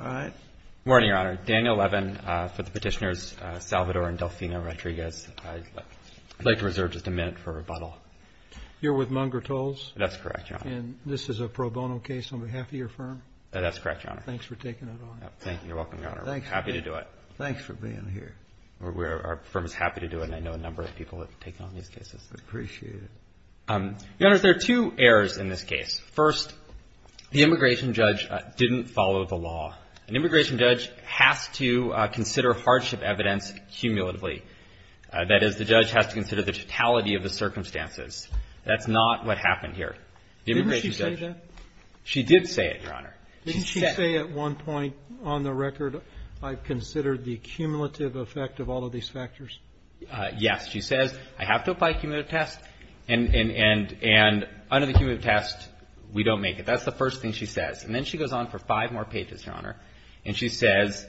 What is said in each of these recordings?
All right. Good morning, Your Honor. Daniel Levin for the petitioners Salvador and Delfina Rodriguez. I'd like to reserve just a minute for rebuttal. You're with Munger Tolls? That's correct, Your Honor. And this is a pro bono case on behalf of your firm? That's correct, Your Honor. Thanks for taking it on. Thank you. You're welcome, Your Honor. I'm happy to do it. Thanks for being here. Our firm is happy to do it, and I know a number of people have taken on these cases. I appreciate it. Your Honors, there are two errors in this case. First, the immigration judge didn't follow the law. An immigration judge has to consider hardship evidence cumulatively. That is, the judge has to consider the totality of the circumstances. That's not what happened here. Didn't she say that? She did say it, Your Honor. Didn't she say at one point on the record, I've considered the cumulative effect of all of these factors? Yes. She says, I have to apply a cumulative test, and under the cumulative test, we don't make it. That's the first thing she says. And then she goes on for five more pages, Your Honor, and she says,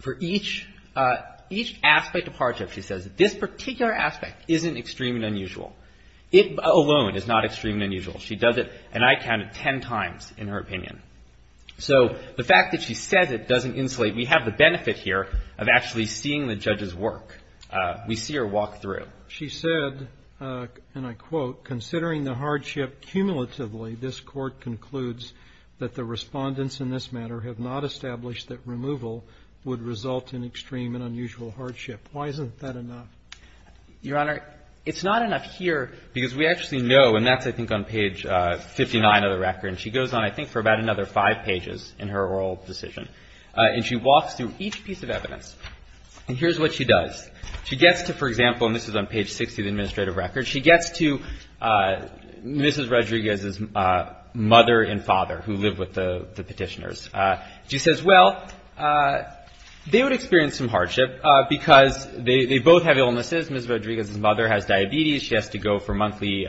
for each aspect of hardship, she says, this particular aspect isn't extreme and unusual. It alone is not extreme and unusual. She does it, and I counted, ten times in her opinion. So the fact that she says it doesn't insulate. We have the benefit here of actually seeing the judge's work. We see her walk through. She said, and I quote, considering the hardship cumulatively, this Court concludes that the Respondents in this matter have not established that removal would result in extreme and unusual hardship. Why isn't that enough? Your Honor, it's not enough here, because we actually know, and that's, I think, on page 59 of the record, and she goes on, I think, for about another five pages in her oral decision. And she walks through each piece of evidence. And here's what she does. She gets to, for example, and this is on page 60 of the administrative record, she gets to Mrs. Rodriguez's mother and father, who live with the petitioners. She says, well, they would experience some hardship because they both have illnesses. Mrs. Rodriguez's mother has diabetes. She has to go for monthly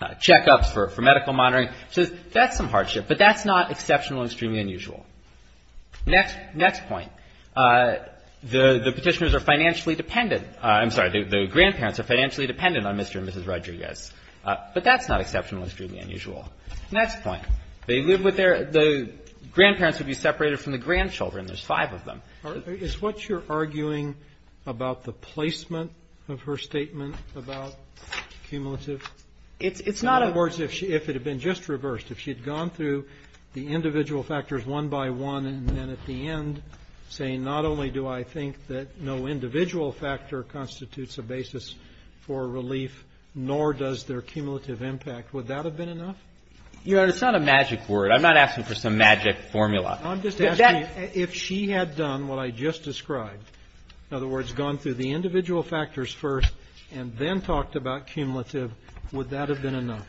checkups for medical monitoring. She says, that's some hardship, but that's not exceptional and extremely unusual. Next point. The petitioners are financially dependent. I'm sorry. The grandparents are financially dependent on Mr. and Mrs. Rodriguez. But that's not exceptional and extremely unusual. Next point. They live with their — the grandparents would be separated from the grandchildren. There's five of them. Roberts. Is what you're arguing about the placement of her statement about cumulative? It's not a — In other words, if it had been just reversed, if she had gone through the individual factors one by one and then at the end saying not only do I think that no individual factor constitutes a basis for relief, nor does their cumulative impact, would that have been enough? Your Honor, it's not a magic word. I'm not asking for some magic formula. I'm just asking if she had done what I just described, in other words, gone through the individual factors first and then talked about cumulative, would that have been enough?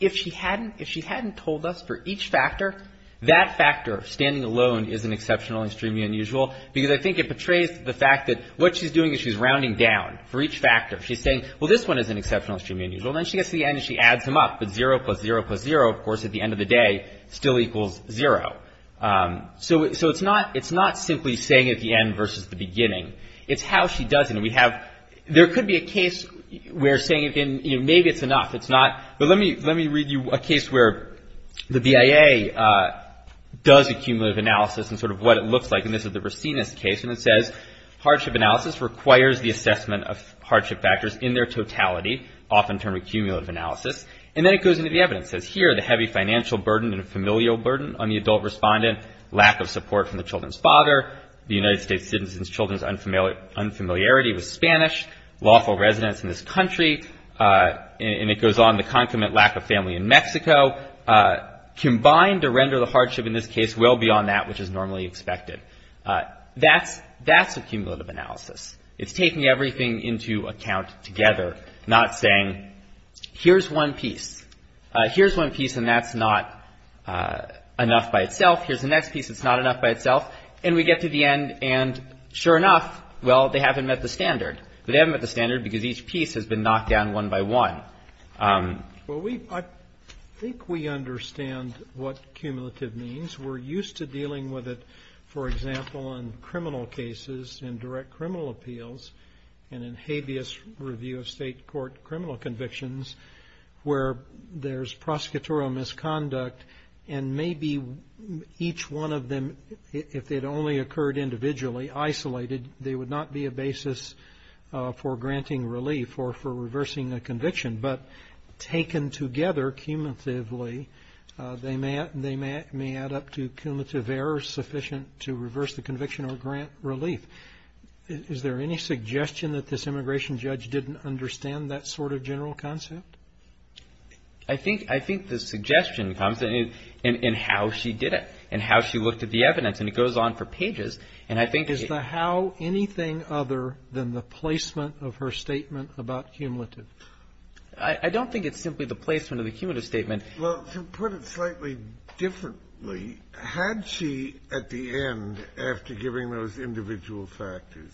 If she hadn't told us for each factor, that factor, standing alone, is an exceptional and extremely unusual, because I think it portrays the fact that what she's doing is she's rounding down for each factor. She's saying, well, this one is an exceptional and extremely unusual. Then she gets to the end and she adds them up. But zero plus zero plus zero, of course, at the end of the day still equals zero. So it's not simply saying at the end versus the beginning. It's how she does it. And we have — there could be a case where saying it in — maybe it's enough. It's not. But let me read you a case where the BIA does a cumulative analysis and sort of what it looks like. And this is the Racines case. And it says, hardship analysis requires the assessment of hardship factors in their totality, often termed cumulative analysis. And then it goes into the evidence. It says, here, the heavy financial burden and familial burden on the adult respondent, lack of support from the children's father, the United States citizens' children's unfamiliarity with Spanish, lawful residence in this country, and it goes on, the concomitant lack of family in Mexico, combined to render the hardship in this case well beyond that which is normally expected. That's a cumulative analysis. It's taking everything into account together, not saying, here's one piece. Here's one piece and that's not enough by itself. Here's the next piece. It's not enough by itself. And we get to the end. And sure enough, well, they haven't met the standard. But they haven't met the standard because each piece has been knocked down one by one. Well, I think we understand what cumulative means. We're used to dealing with it, for example, in criminal cases, in direct criminal appeals, and in habeas review of state court criminal convictions where there's prosecutorial misconduct and maybe each one of them, if it only occurred individually, isolated, they would not be a basis for granting relief or for reversing a conviction. But taken together cumulatively, they may add up to cumulative errors sufficient to reverse the conviction or grant relief. Is there any suggestion that this immigration judge didn't understand that sort of general concept? I think the suggestion comes in how she did it and how she looked at the evidence. And it goes on for pages. And I think it's the how. Anything other than the placement of her statement about cumulative? I don't think it's simply the placement of the cumulative statement. Well, to put it slightly differently, had she at the end, after giving those individual factors,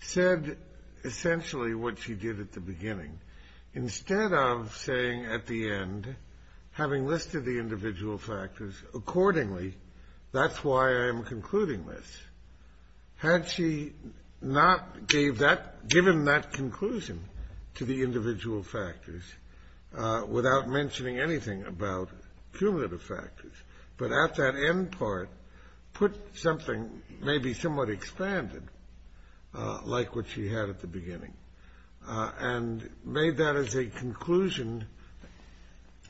said essentially what she did at the beginning? Instead of saying at the end, having listed the individual factors accordingly, that's why I'm concluding this, had she not given that conclusion to the individual factors without mentioning anything about cumulative factors, but at that end part put something maybe somewhat expanded like what she had at the beginning and made that as a conclusion,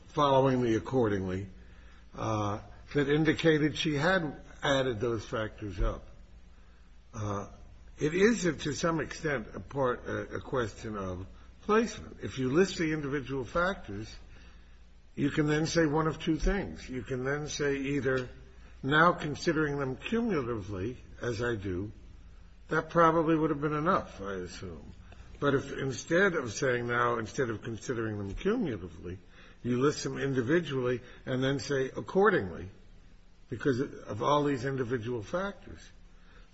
following the accordingly, that indicated she hadn't added those factors up. It is, to some extent, a question of placement. If you list the individual factors, you can then say one of two things. You can then say either now considering them cumulatively, as I do, that probably would have been enough, I assume. But if instead of saying now, instead of considering them cumulatively, you list them individually and then say accordingly because of all these individual factors.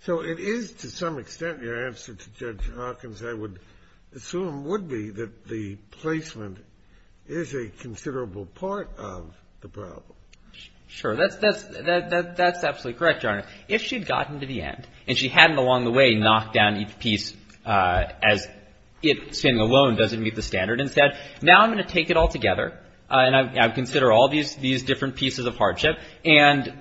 So it is, to some extent, your answer to Judge Hawkins, I would assume, would be that the placement is a considerable part of the problem. Sure. That's absolutely correct, Your Honor. If she had gotten to the end and she hadn't along the way knocked down each piece as it, saying alone doesn't meet the standard and said, now I'm going to take it all together and I consider all these different pieces of hardship and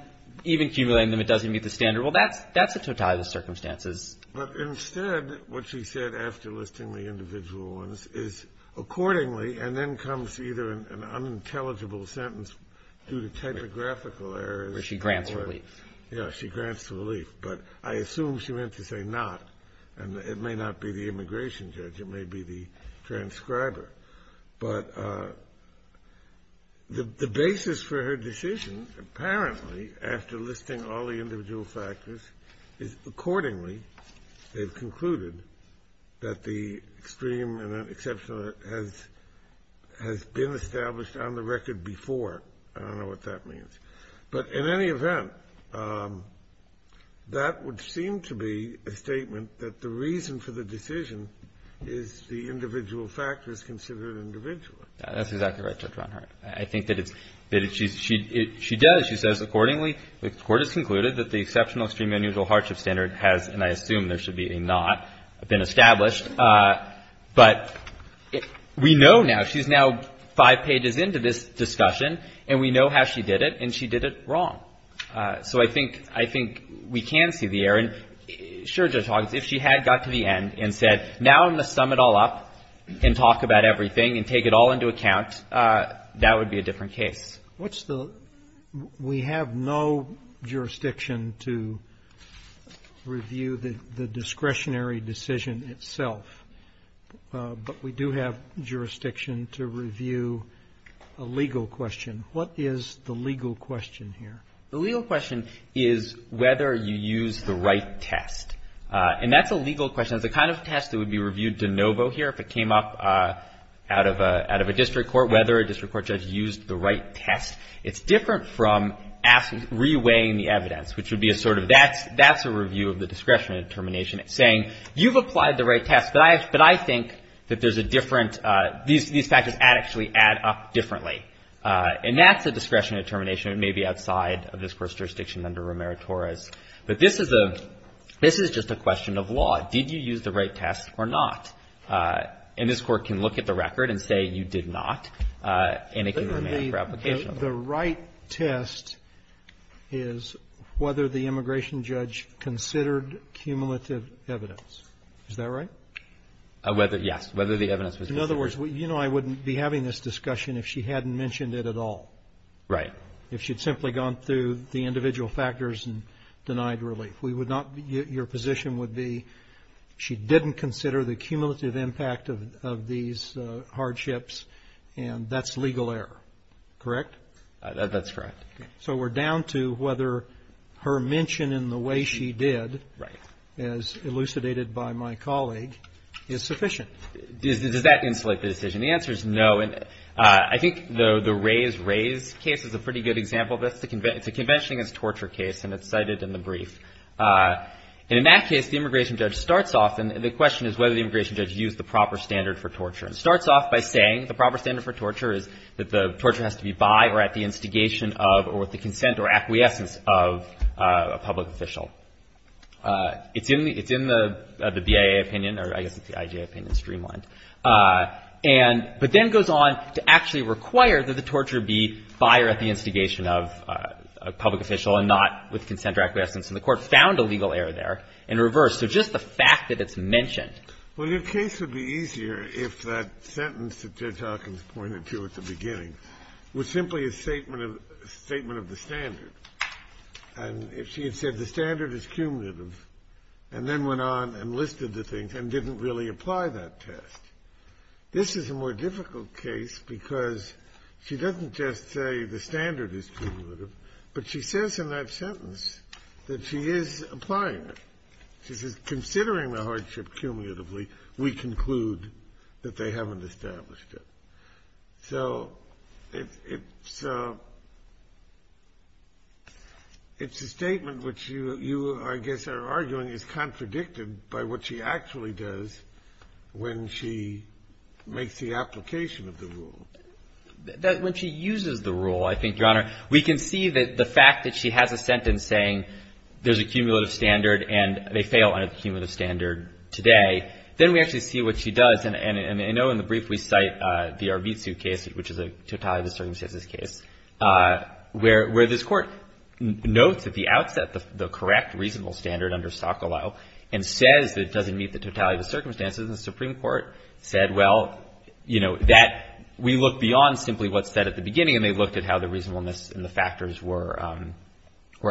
even cumulating them, it doesn't meet the standard. Well, that's a totality of the circumstances. But instead what she said after listing the individual ones is accordingly and then comes either an unintelligible sentence due to typographical errors. Where she grants relief. Yeah, she grants the relief. But I assume she meant to say not, and it may not be the immigration judge. It may be the transcriber. But the basis for her decision, apparently, after listing all the individual factors, is accordingly they've concluded that the extreme and exceptional has been established on the record before. I don't know what that means. But in any event, that would seem to be a statement that the reason for the decision is the individual factors considered individually. That's exactly right, Judge Ronhart. I think that it's ‑‑ she does. She says accordingly the court has concluded that the exceptional extreme unusual hardship standard has, and I assume there should be a not, been established. But we know now, she's now five pages into this discussion, and we know how she did it. And she did it wrong. So I think we can see the error. And sure, Judge Hogg, if she had got to the end and said now I'm going to sum it all up and talk about everything and take it all into account, that would be a different case. What's the ‑‑ we have no jurisdiction to review the discretionary decision itself. But we do have jurisdiction to review a legal question. What is the legal question here? The legal question is whether you use the right test. And that's a legal question. It's the kind of test that would be reviewed de novo here if it came up out of a district court, whether a district court judge used the right test. It's different from reweighing the evidence, which would be a sort of ‑‑ that's a review of the discretionary determination saying you've applied the right test, but I think that there's a different ‑‑ these factors actually add up differently. And that's a discretionary determination. It may be outside of this Court's jurisdiction under Romero-Torres. But this is a ‑‑ this is just a question of law. Did you use the right test or not? And this Court can look at the record and say you did not, and it can remain for application. The right test is whether the immigration judge considered cumulative evidence. Whether, yes, whether the evidence was cumulative. In other words, you know I wouldn't be having this discussion if she hadn't mentioned it at all. Right. If she'd simply gone through the individual factors and denied relief. We would not ‑‑ your position would be she didn't consider the cumulative impact of these hardships, and that's legal error, correct? That's correct. So we're down to whether her mention in the way she did, as elucidated by my colleague, is sufficient. Does that insulate the decision? The answer is no. I think the Rays-Rays case is a pretty good example of this. It's a convention against torture case, and it's cited in the brief. And in that case, the immigration judge starts off, and the question is whether the immigration judge used the proper standard for torture. It starts off by saying the proper standard for torture is that the torture has to be by or at the instigation of or with the consent or acquiescence of a public official. It's in the BIA opinion, or I guess it's the IJ opinion, streamlined. And ‑‑ but then goes on to actually require that the torture be by or at the instigation of a public official and not with consent or acquiescence. And the Court found a legal error there in reverse. So just the fact that it's mentioned. Well, your case would be easier if that sentence that Judge Hawkins pointed to at the beginning was simply a statement of the standard. And if she had said the standard is cumulative and then went on and listed the things and didn't really apply that test. This is a more difficult case because she doesn't just say the standard is cumulative, but she says in that sentence that she is applying it. She says considering the hardship cumulatively, we conclude that they haven't established it. So it's a statement which you, I guess, are arguing is contradicted by what she actually does when she makes the application of the rule. When she uses the rule, I think, Your Honor, we can see that the fact that she has a sentence saying there's a cumulative standard and they fail under the cumulative standard today, then we actually see what she does. And I know in the brief we cite the Arvizu case, which is a totality of the circumstances case, where this Court notes at the outset the correct reasonable standard under Sokolow and says that it doesn't meet the totality of the circumstances. And the Supreme Court said, well, you know, that we look beyond simply what's said at the beginning. And they looked at how the reasonableness and the factors were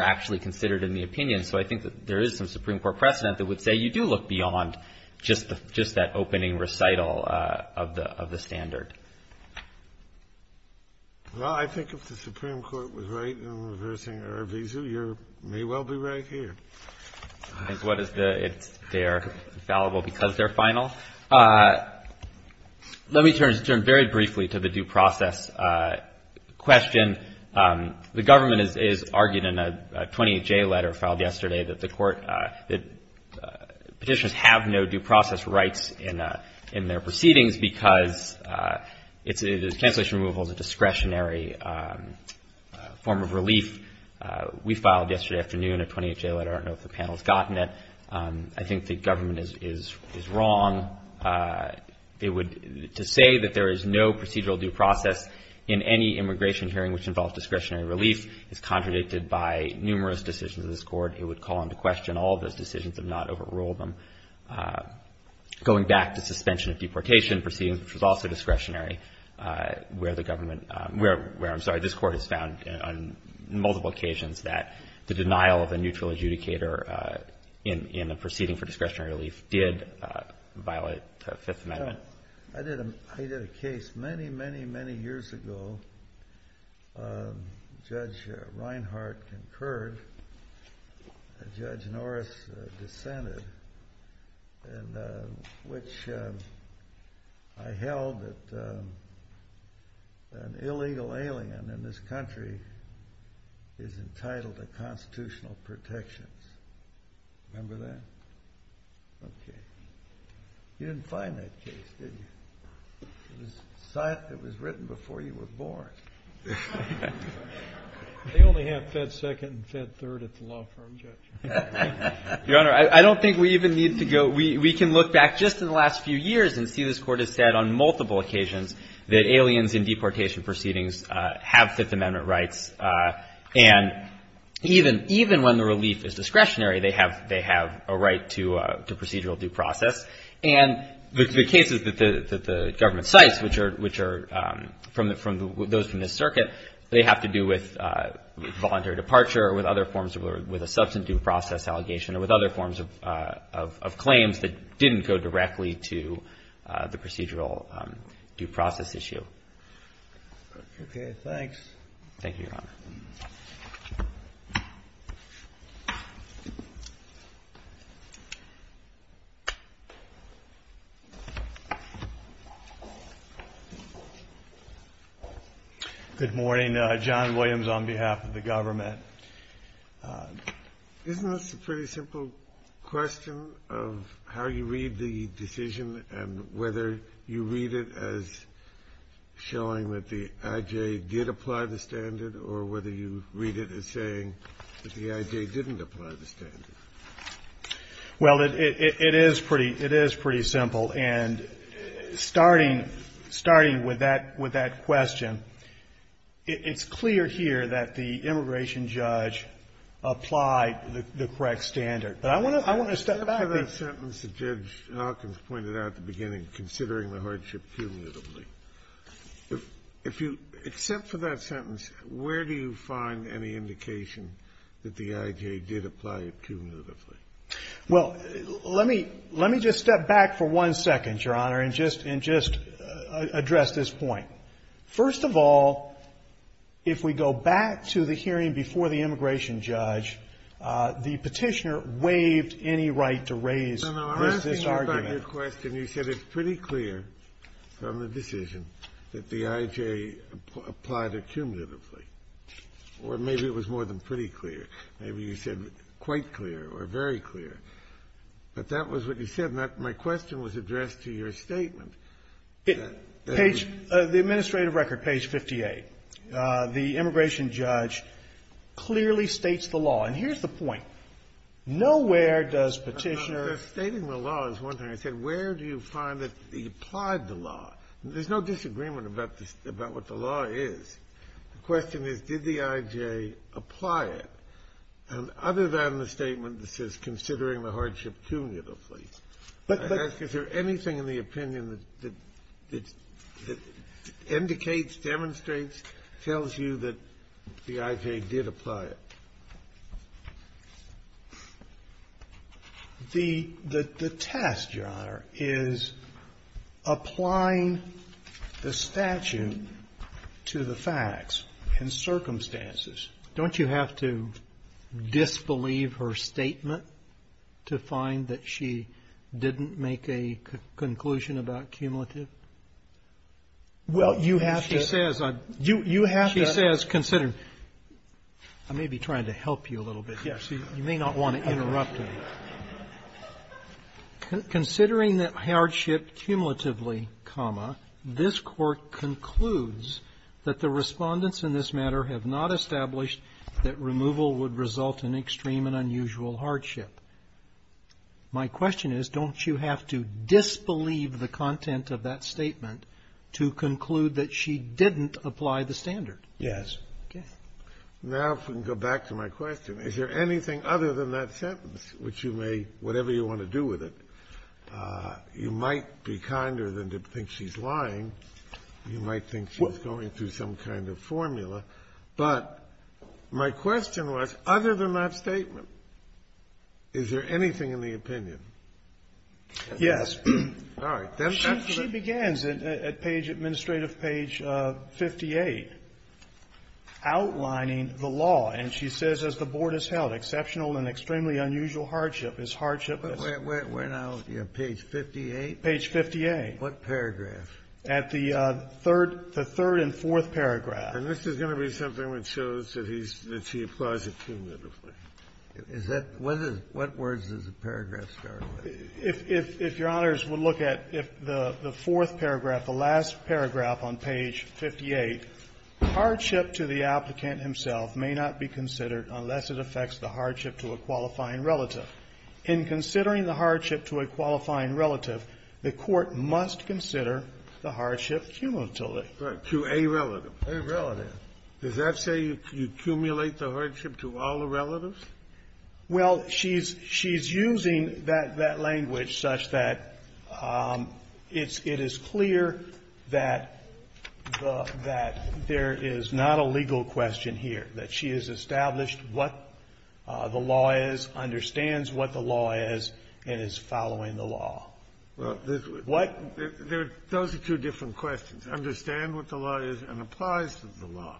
actually considered in the opinion. So I think that there is some Supreme Court precedent that would say you do look beyond just that opening recital of the standard. Kennedy. Well, I think if the Supreme Court was right in reversing Arvizu, you may well be right here. I think they are fallible because they're final. Let me turn very briefly to the due process question. The government has argued in a 28-J letter filed yesterday that the Court, that petitioners have no due process rights in their proceedings because cancellation removal is a discretionary form of relief. We filed yesterday afternoon a 28-J letter. I don't know if the panel has gotten it. I think the government is wrong. To say that there is no procedural due process in any immigration hearing which involves discretionary relief is contradicted by numerous decisions of this Court. It would call into question all of those decisions and not overrule them. Going back to suspension of deportation proceedings, which is also discretionary, where the government, where I'm sorry, this Court has found on multiple occasions that the denial of a neutral adjudicator in a proceeding for discretionary relief did violate the Fifth Amendment. I did a case many, many, many years ago. Judge Reinhart concurred. Judge Norris dissented. Which I held that an illegal alien in this country is entitled to constitutional protections. Remember that? Okay. You didn't find that case, did you? It was written before you were born. They only have Fed Second and Fed Third at the law firm, Judge. Your Honor, I don't think we even need to go. We can look back just in the last few years and see this Court has said on multiple occasions that aliens in deportation proceedings have Fifth Amendment rights. And even when the relief is discretionary, they have a right to procedural due process. And the cases that the government cites, which are from those from this circuit, they have to do with voluntary departure or with other forms of a substantive due process allegation or with other forms of claims that didn't go directly to the procedural due process issue. Okay. Thanks. Thank you, Your Honor. Good morning. John Williams on behalf of the government. Isn't this a pretty simple question of how you read the decision and whether you read it as showing that the I.J. did apply the standard or whether you read it as saying that the I.J. didn't apply the standard? Well, it is pretty simple. And starting with that question, it's clear here that the immigration judge applied the correct standard. But I want to step back. Except for that sentence that Judge Hawkins pointed out at the beginning, considering the hardship cumulatively, if you – except for that sentence, where do you find any indication that the I.J. did apply it cumulatively? Well, let me – let me just step back for one second, Your Honor, and just address this point. First of all, if we go back to the hearing before the immigration judge, the Petitioner waived any right to raise this argument. No, no. I'm asking you about your question. You said it's pretty clear from the decision that the I.J. applied it cumulatively. Or maybe it was more than pretty clear. Maybe you said quite clear or very clear. But that was what you said. My question was addressed to your statement. Page – the administrative record, page 58. The immigration judge clearly states the law. And here's the point. Nowhere does Petitioner – Your Honor, stating the law is one thing. I said, where do you find that he applied the law? There's no disagreement about this – about what the law is. The question is, did the I.J. apply it? And other than the statement that says considering the hardship cumulatively, I ask, is there anything in the opinion that indicates, demonstrates, tells you that the I.J. did apply it? The test, Your Honor, is applying the statute to the facts and circumstances. Don't you have to disbelieve her statement to find that she didn't make a conclusion about cumulative? Well, you have to – She says – You have to – I may be trying to help you a little bit here, so you may not want to interrupt me. Considering the hardship cumulatively, this Court concludes that the Respondents in this matter have not established that removal would result in extreme and unusual hardship. My question is, don't you have to disbelieve the content of that statement to conclude that she didn't apply the standard? Yes. Okay. Now, if we can go back to my question, is there anything other than that sentence, which you may, whatever you want to do with it, you might be kinder than to think she's lying. You might think she's going through some kind of formula. But my question was, other than that statement, is there anything in the opinion? Yes. All right. She begins at page – administrative page 58, outlining the law. And she says, as the Board has held, exceptional and extremely unusual hardship is hardship that's – We're now at page 58? Page 58. What paragraph? At the third – the third and fourth paragraph. And this is going to be something which shows that he's – that she applies it cumulatively. Is that – what is – what words does the paragraph start with? If your Honors would look at the fourth paragraph, the last paragraph on page 58, hardship to the applicant himself may not be considered unless it affects the hardship to a qualifying relative. In considering the hardship to a qualifying relative, the Court must consider the hardship cumulatively. Right. To a relative. A relative. Does that say you accumulate the hardship to all the relatives? Well, she's – she's using that – that language such that it's – it is clear that the – that there is not a legal question here, that she has established what the law is, understands what the law is, and is following the law. Well, there's – What? Those are two different questions, understand what the law is and applies to the law.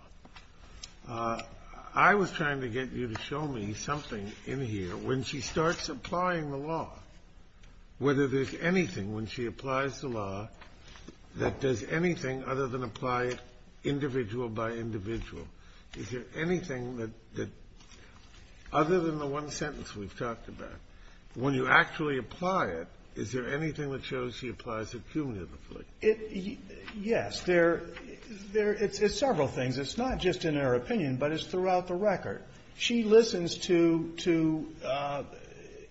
I was trying to get you to show me something in here. When she starts applying the law, whether there's anything when she applies the law that does anything other than apply it individual by individual. Is there anything that – other than the one sentence we've talked about, when you actually apply it, is there anything that shows she applies it cumulatively? It – yes. There – there – it's several things. It's not just in her opinion, but it's throughout the record. She listens to – to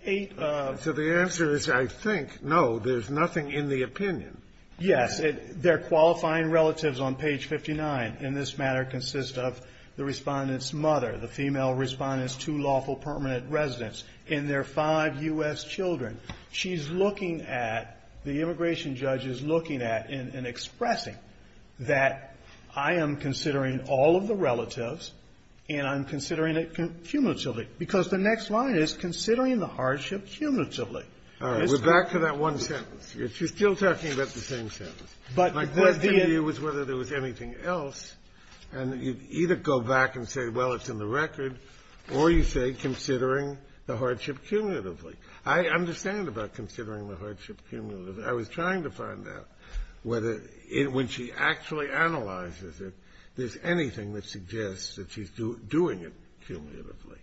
eight of the – So the answer is, I think, no. There's nothing in the opinion. Yes. Their qualifying relatives on page 59 in this matter consist of the Respondent's mother, the female Respondent's two lawful permanent residents, and their five U.S. children. She's looking at – the immigration judge is looking at and expressing that I am considering all of the relatives and I'm considering it cumulatively, because the next line is considering the hardship cumulatively. All right. We're back to that one sentence. She's still talking about the same sentence. But the question to you was whether there was anything else. And you either go back and say, well, it's in the record, or you say considering the hardship cumulatively. I understand about considering the hardship cumulatively. I was trying to find out whether it – when she actually analyzes it, there's anything that suggests that she's doing it cumulatively.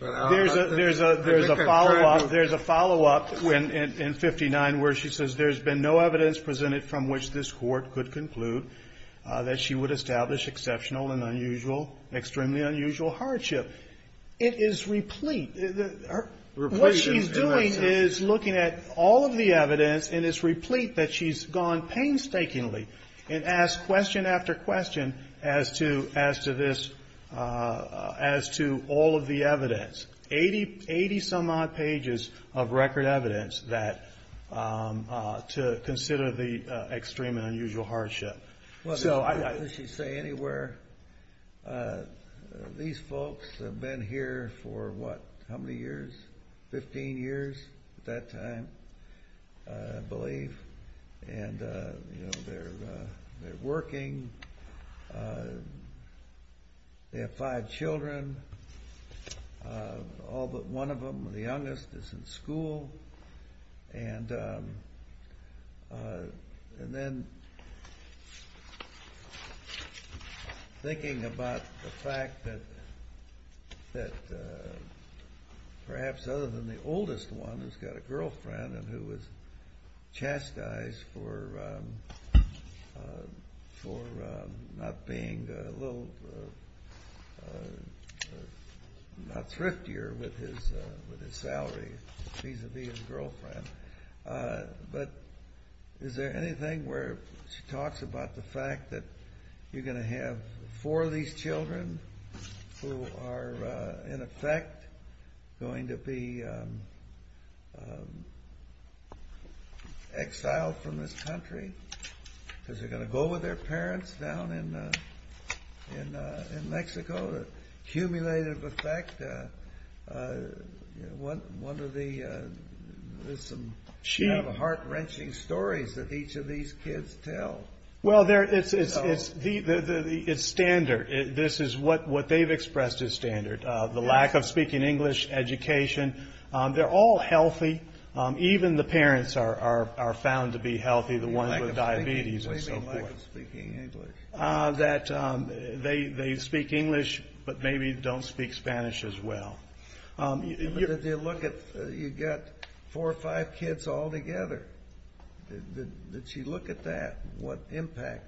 There's a – there's a follow-up. There's a follow-up in 59 where she says there's been no evidence presented from which this Court could conclude that she would establish exceptional and unusual – extremely unusual hardship. It is replete. What she's doing is looking at all of the evidence, and it's replete that she's gone painstakingly and asked question after question as to this – as to all of the evidence. Eighty-some-odd pages of record evidence that – to consider the extreme and unusual hardship. As you say, anywhere. These folks have been here for, what, how many years? Fifteen years at that time, I believe. And, you know, they're working. They have five children. All but one of them, the youngest, is in school. And then thinking about the fact that perhaps other than the oldest one, who's got a girlfriend and who was chastised for not being a little – not thriftier with his salary vis-à-vis his girlfriend. But is there anything where she talks about the fact that you're going to have four of these children who are, in effect, going to be exiled from this country because they're going to go with their parents down in Mexico? Cumulative effect. One of the – there's some heart-wrenching stories that each of these kids tell. Well, it's standard. This is what they've expressed as standard, the lack of speaking English, education. They're all healthy. Even the parents are found to be healthy, the ones with diabetes and so forth. What do you mean, lack of speaking English? That they speak English but maybe don't speak Spanish as well. Did you look at – you've got four or five kids all together. Did she look at that, what impact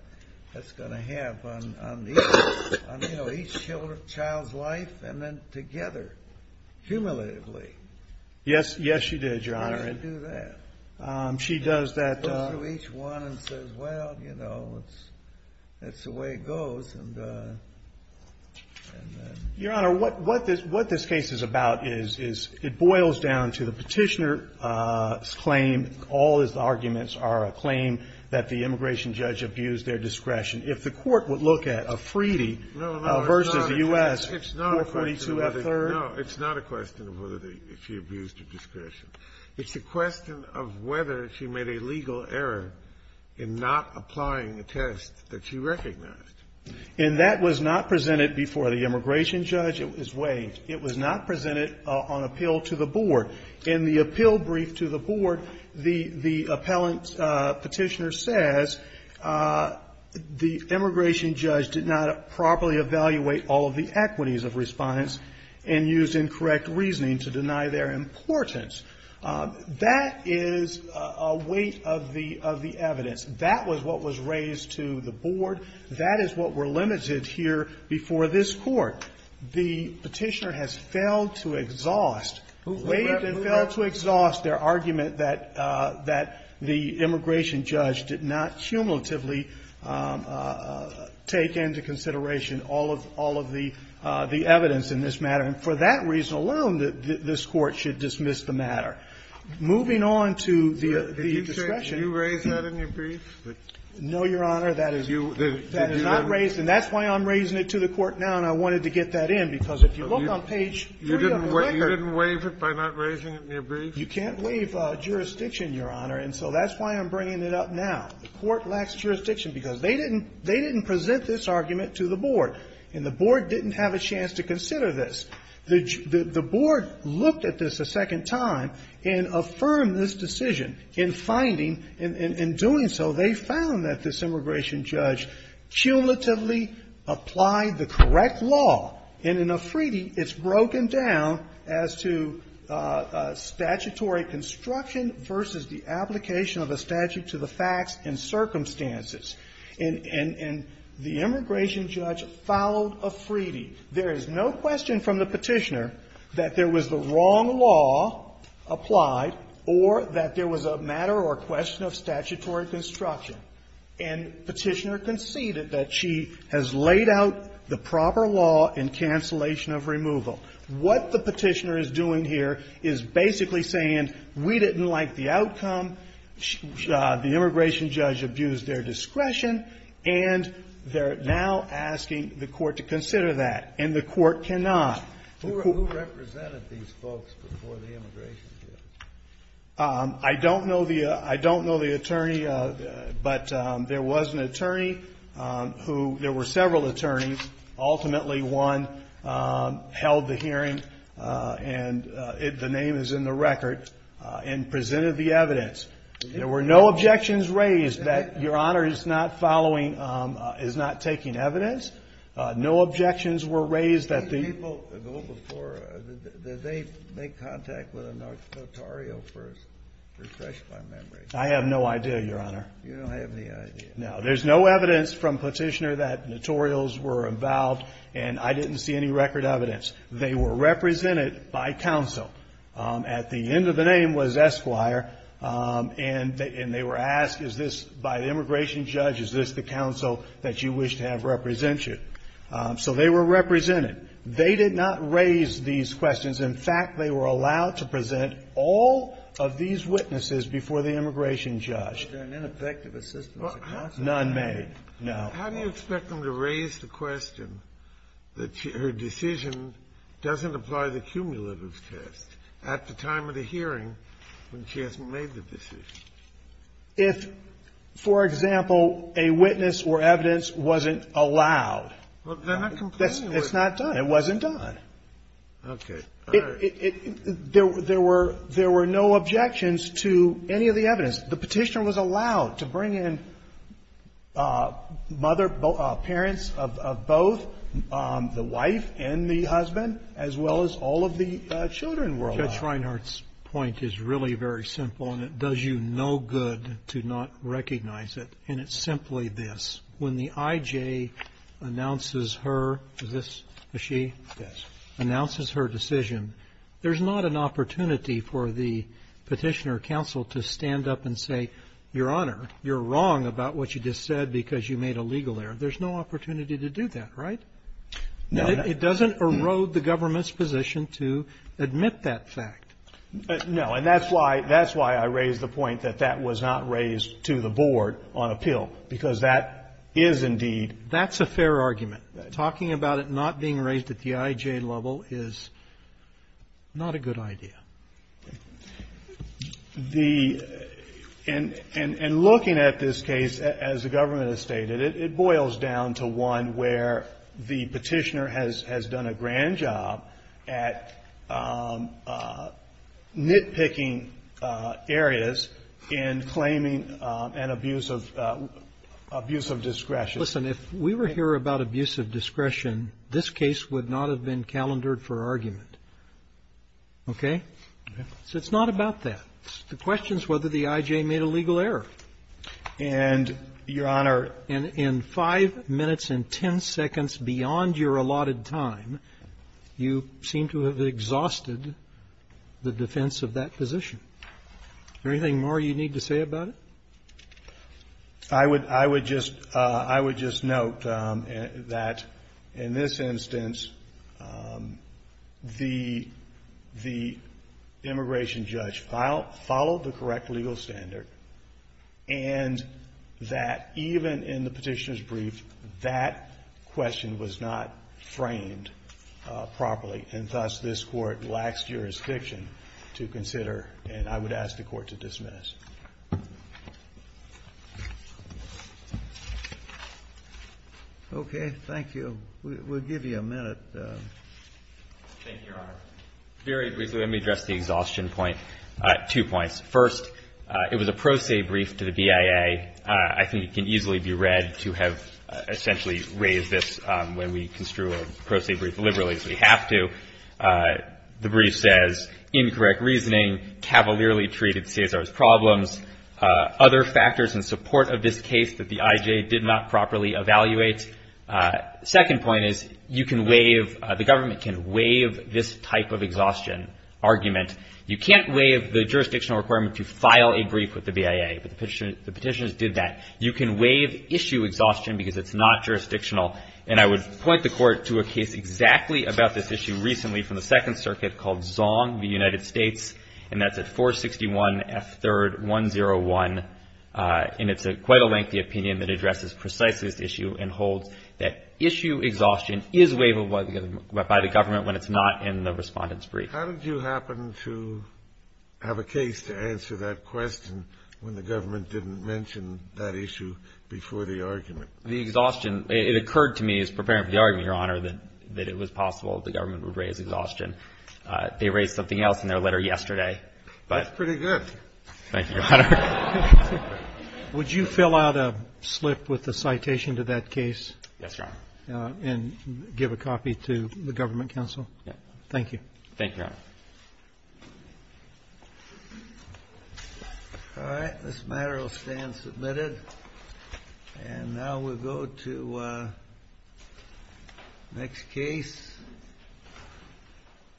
that's going to have on each child's life and then together, cumulatively? Yes. Yes, she did, Your Honor. How does she do that? She does that. Goes through each one and says, well, you know, that's the way it goes. Your Honor, what this case is about is it boils down to the petitioner's claim. All his arguments are a claim that the immigration judge abused their discretion. If the court would look at a Freedy versus the U.S. No, no, it's not a question of whether – if she abused her discretion. It's a question of whether she made a legal error in not applying a test that she recognized. And that was not presented before the immigration judge. It was not presented on appeal to the board. In the appeal brief to the board, the appellant petitioner says the immigration judge did not properly evaluate all of the equities of respondents and used incorrect reasoning to deny their importance. That is a weight of the evidence. That was what was raised to the board. That is what were limited here before this Court. The petitioner has failed to exhaust, waived and failed to exhaust their argument that the immigration judge did not cumulatively take into consideration all of the evidence in this matter. And for that reason alone, this Court should dismiss the matter. Moving on to the discretion. Did you raise that in your brief? No, Your Honor. That is not raised. And that's why I'm raising it to the Court now, and I wanted to get that in, because if you look on page 3 of the record You didn't waive it by not raising it in your brief? You can't waive jurisdiction, Your Honor. And so that's why I'm bringing it up now. The Court lacks jurisdiction because they didn't present this argument to the board. And the board didn't have a chance to consider this. The board looked at this a second time and affirmed this decision in finding and in doing so, they found that this immigration judge cumulatively applied the correct law. And in a Freedy, it's broken down as to statutory construction versus the application of a statute to the facts and circumstances. And the immigration judge followed a Freedy. There is no question from the Petitioner that there was the wrong law applied or that there was a matter or question of statutory construction. And Petitioner conceded that she has laid out the proper law in cancellation of removal. What the Petitioner is doing here is basically saying we didn't like the outcome, the immigration judge abused their discretion, and they're now asking the Court to consider that. And the Court cannot. Who represented these folks before the immigration judge? I don't know the attorney, but there was an attorney who – there were several attorneys. Ultimately, one held the hearing, and the name is in the record, and presented the evidence. There were no objections raised that Your Honor is not following – is not taking evidence. No objections were raised that the – Did people go before – did they make contact with a notario first to refresh my memory? I have no idea, Your Honor. You don't have any idea? No. There's no evidence from Petitioner that notarios were involved, and I didn't see any record evidence. They were represented by counsel. At the end of the name was Esquire, and they were asked, is this – by the immigration judge, is this the counsel that you wish to have represent you? So they were represented. They did not raise these questions. In fact, they were allowed to present all of these witnesses before the immigration judge. Were there any effective assistance? None made. No. How do you expect them to raise the question that her decision doesn't apply to cumulative test at the time of the hearing when she hasn't made the decision? If, for example, a witness or evidence wasn't allowed. Well, they're not complaining. It's not done. It wasn't done. Okay. All right. There were no objections to any of the evidence. The Petitioner was allowed to bring in mother – parents of both, the wife and the children were allowed. Judge Reinhart's point is really very simple, and it does you no good to not recognize it, and it's simply this. When the I.J. announces her – is this a she? Yes. Announces her decision, there's not an opportunity for the Petitioner counsel to stand up and say, Your Honor, you're wrong about what you just said because you made a legal error. There's no opportunity to do that, right? No. It doesn't erode the government's position to admit that fact. No. And that's why – that's why I raised the point that that was not raised to the Board on appeal, because that is indeed – That's a fair argument. Talking about it not being raised at the I.J. level is not a good idea. The – and looking at this case, as the government has stated, it boils down to one where the Petitioner has done a grand job at nitpicking areas in claiming an abuse of – abuse of discretion. Listen, if we were here about abuse of discretion, this case would not have been calendared for argument, okay? Okay. So it's not about that. The question is whether the I.J. made a legal error. And, Your Honor – In five minutes and ten seconds beyond your allotted time, you seem to have exhausted the defense of that position. Is there anything more you need to say about it? I would – I would just – I would just note that in this instance, the – the immigration brief, that question was not framed properly. And thus, this Court lacks jurisdiction to consider. And I would ask the Court to dismiss. Okay. Thank you. We'll give you a minute. Thank you, Your Honor. Very briefly, let me address the exhaustion point. Two points. First, it was a pro se brief to the BIA. I think it can easily be read to have essentially raised this when we construe a pro se brief liberally, as we have to. The brief says, incorrect reasoning, cavalierly treated CSR's problems, other factors in support of this case that the I.J. did not properly evaluate. Second point is, you can waive – the government can waive this type of exhaustion argument. You can't waive the jurisdictional requirement to file a brief with the BIA. But the petitioners did that. You can waive issue exhaustion because it's not jurisdictional. And I would point the Court to a case exactly about this issue recently from the Second Circuit called Zong v. United States, and that's at 461 F. 3rd 101. And it's quite a lengthy opinion that addresses precisely this issue and holds that issue exhaustion is waiveable by the government when it's not in the Respondent's brief. How did you happen to have a case to answer that question when the government didn't mention that issue before the argument? The exhaustion, it occurred to me as preparing for the argument, Your Honor, that it was possible the government would raise exhaustion. They raised something else in their letter yesterday. That's pretty good. Thank you, Your Honor. Would you fill out a slip with a citation to that case? Yes, Your Honor. And give a copy to the government counsel? Yes. Thank you. Thank you, Your Honor. All right. This matter will stand submitted. And now we'll go to the next case,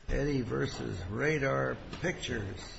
Eddy v. Radar Pictures. Thank you, Your Honor.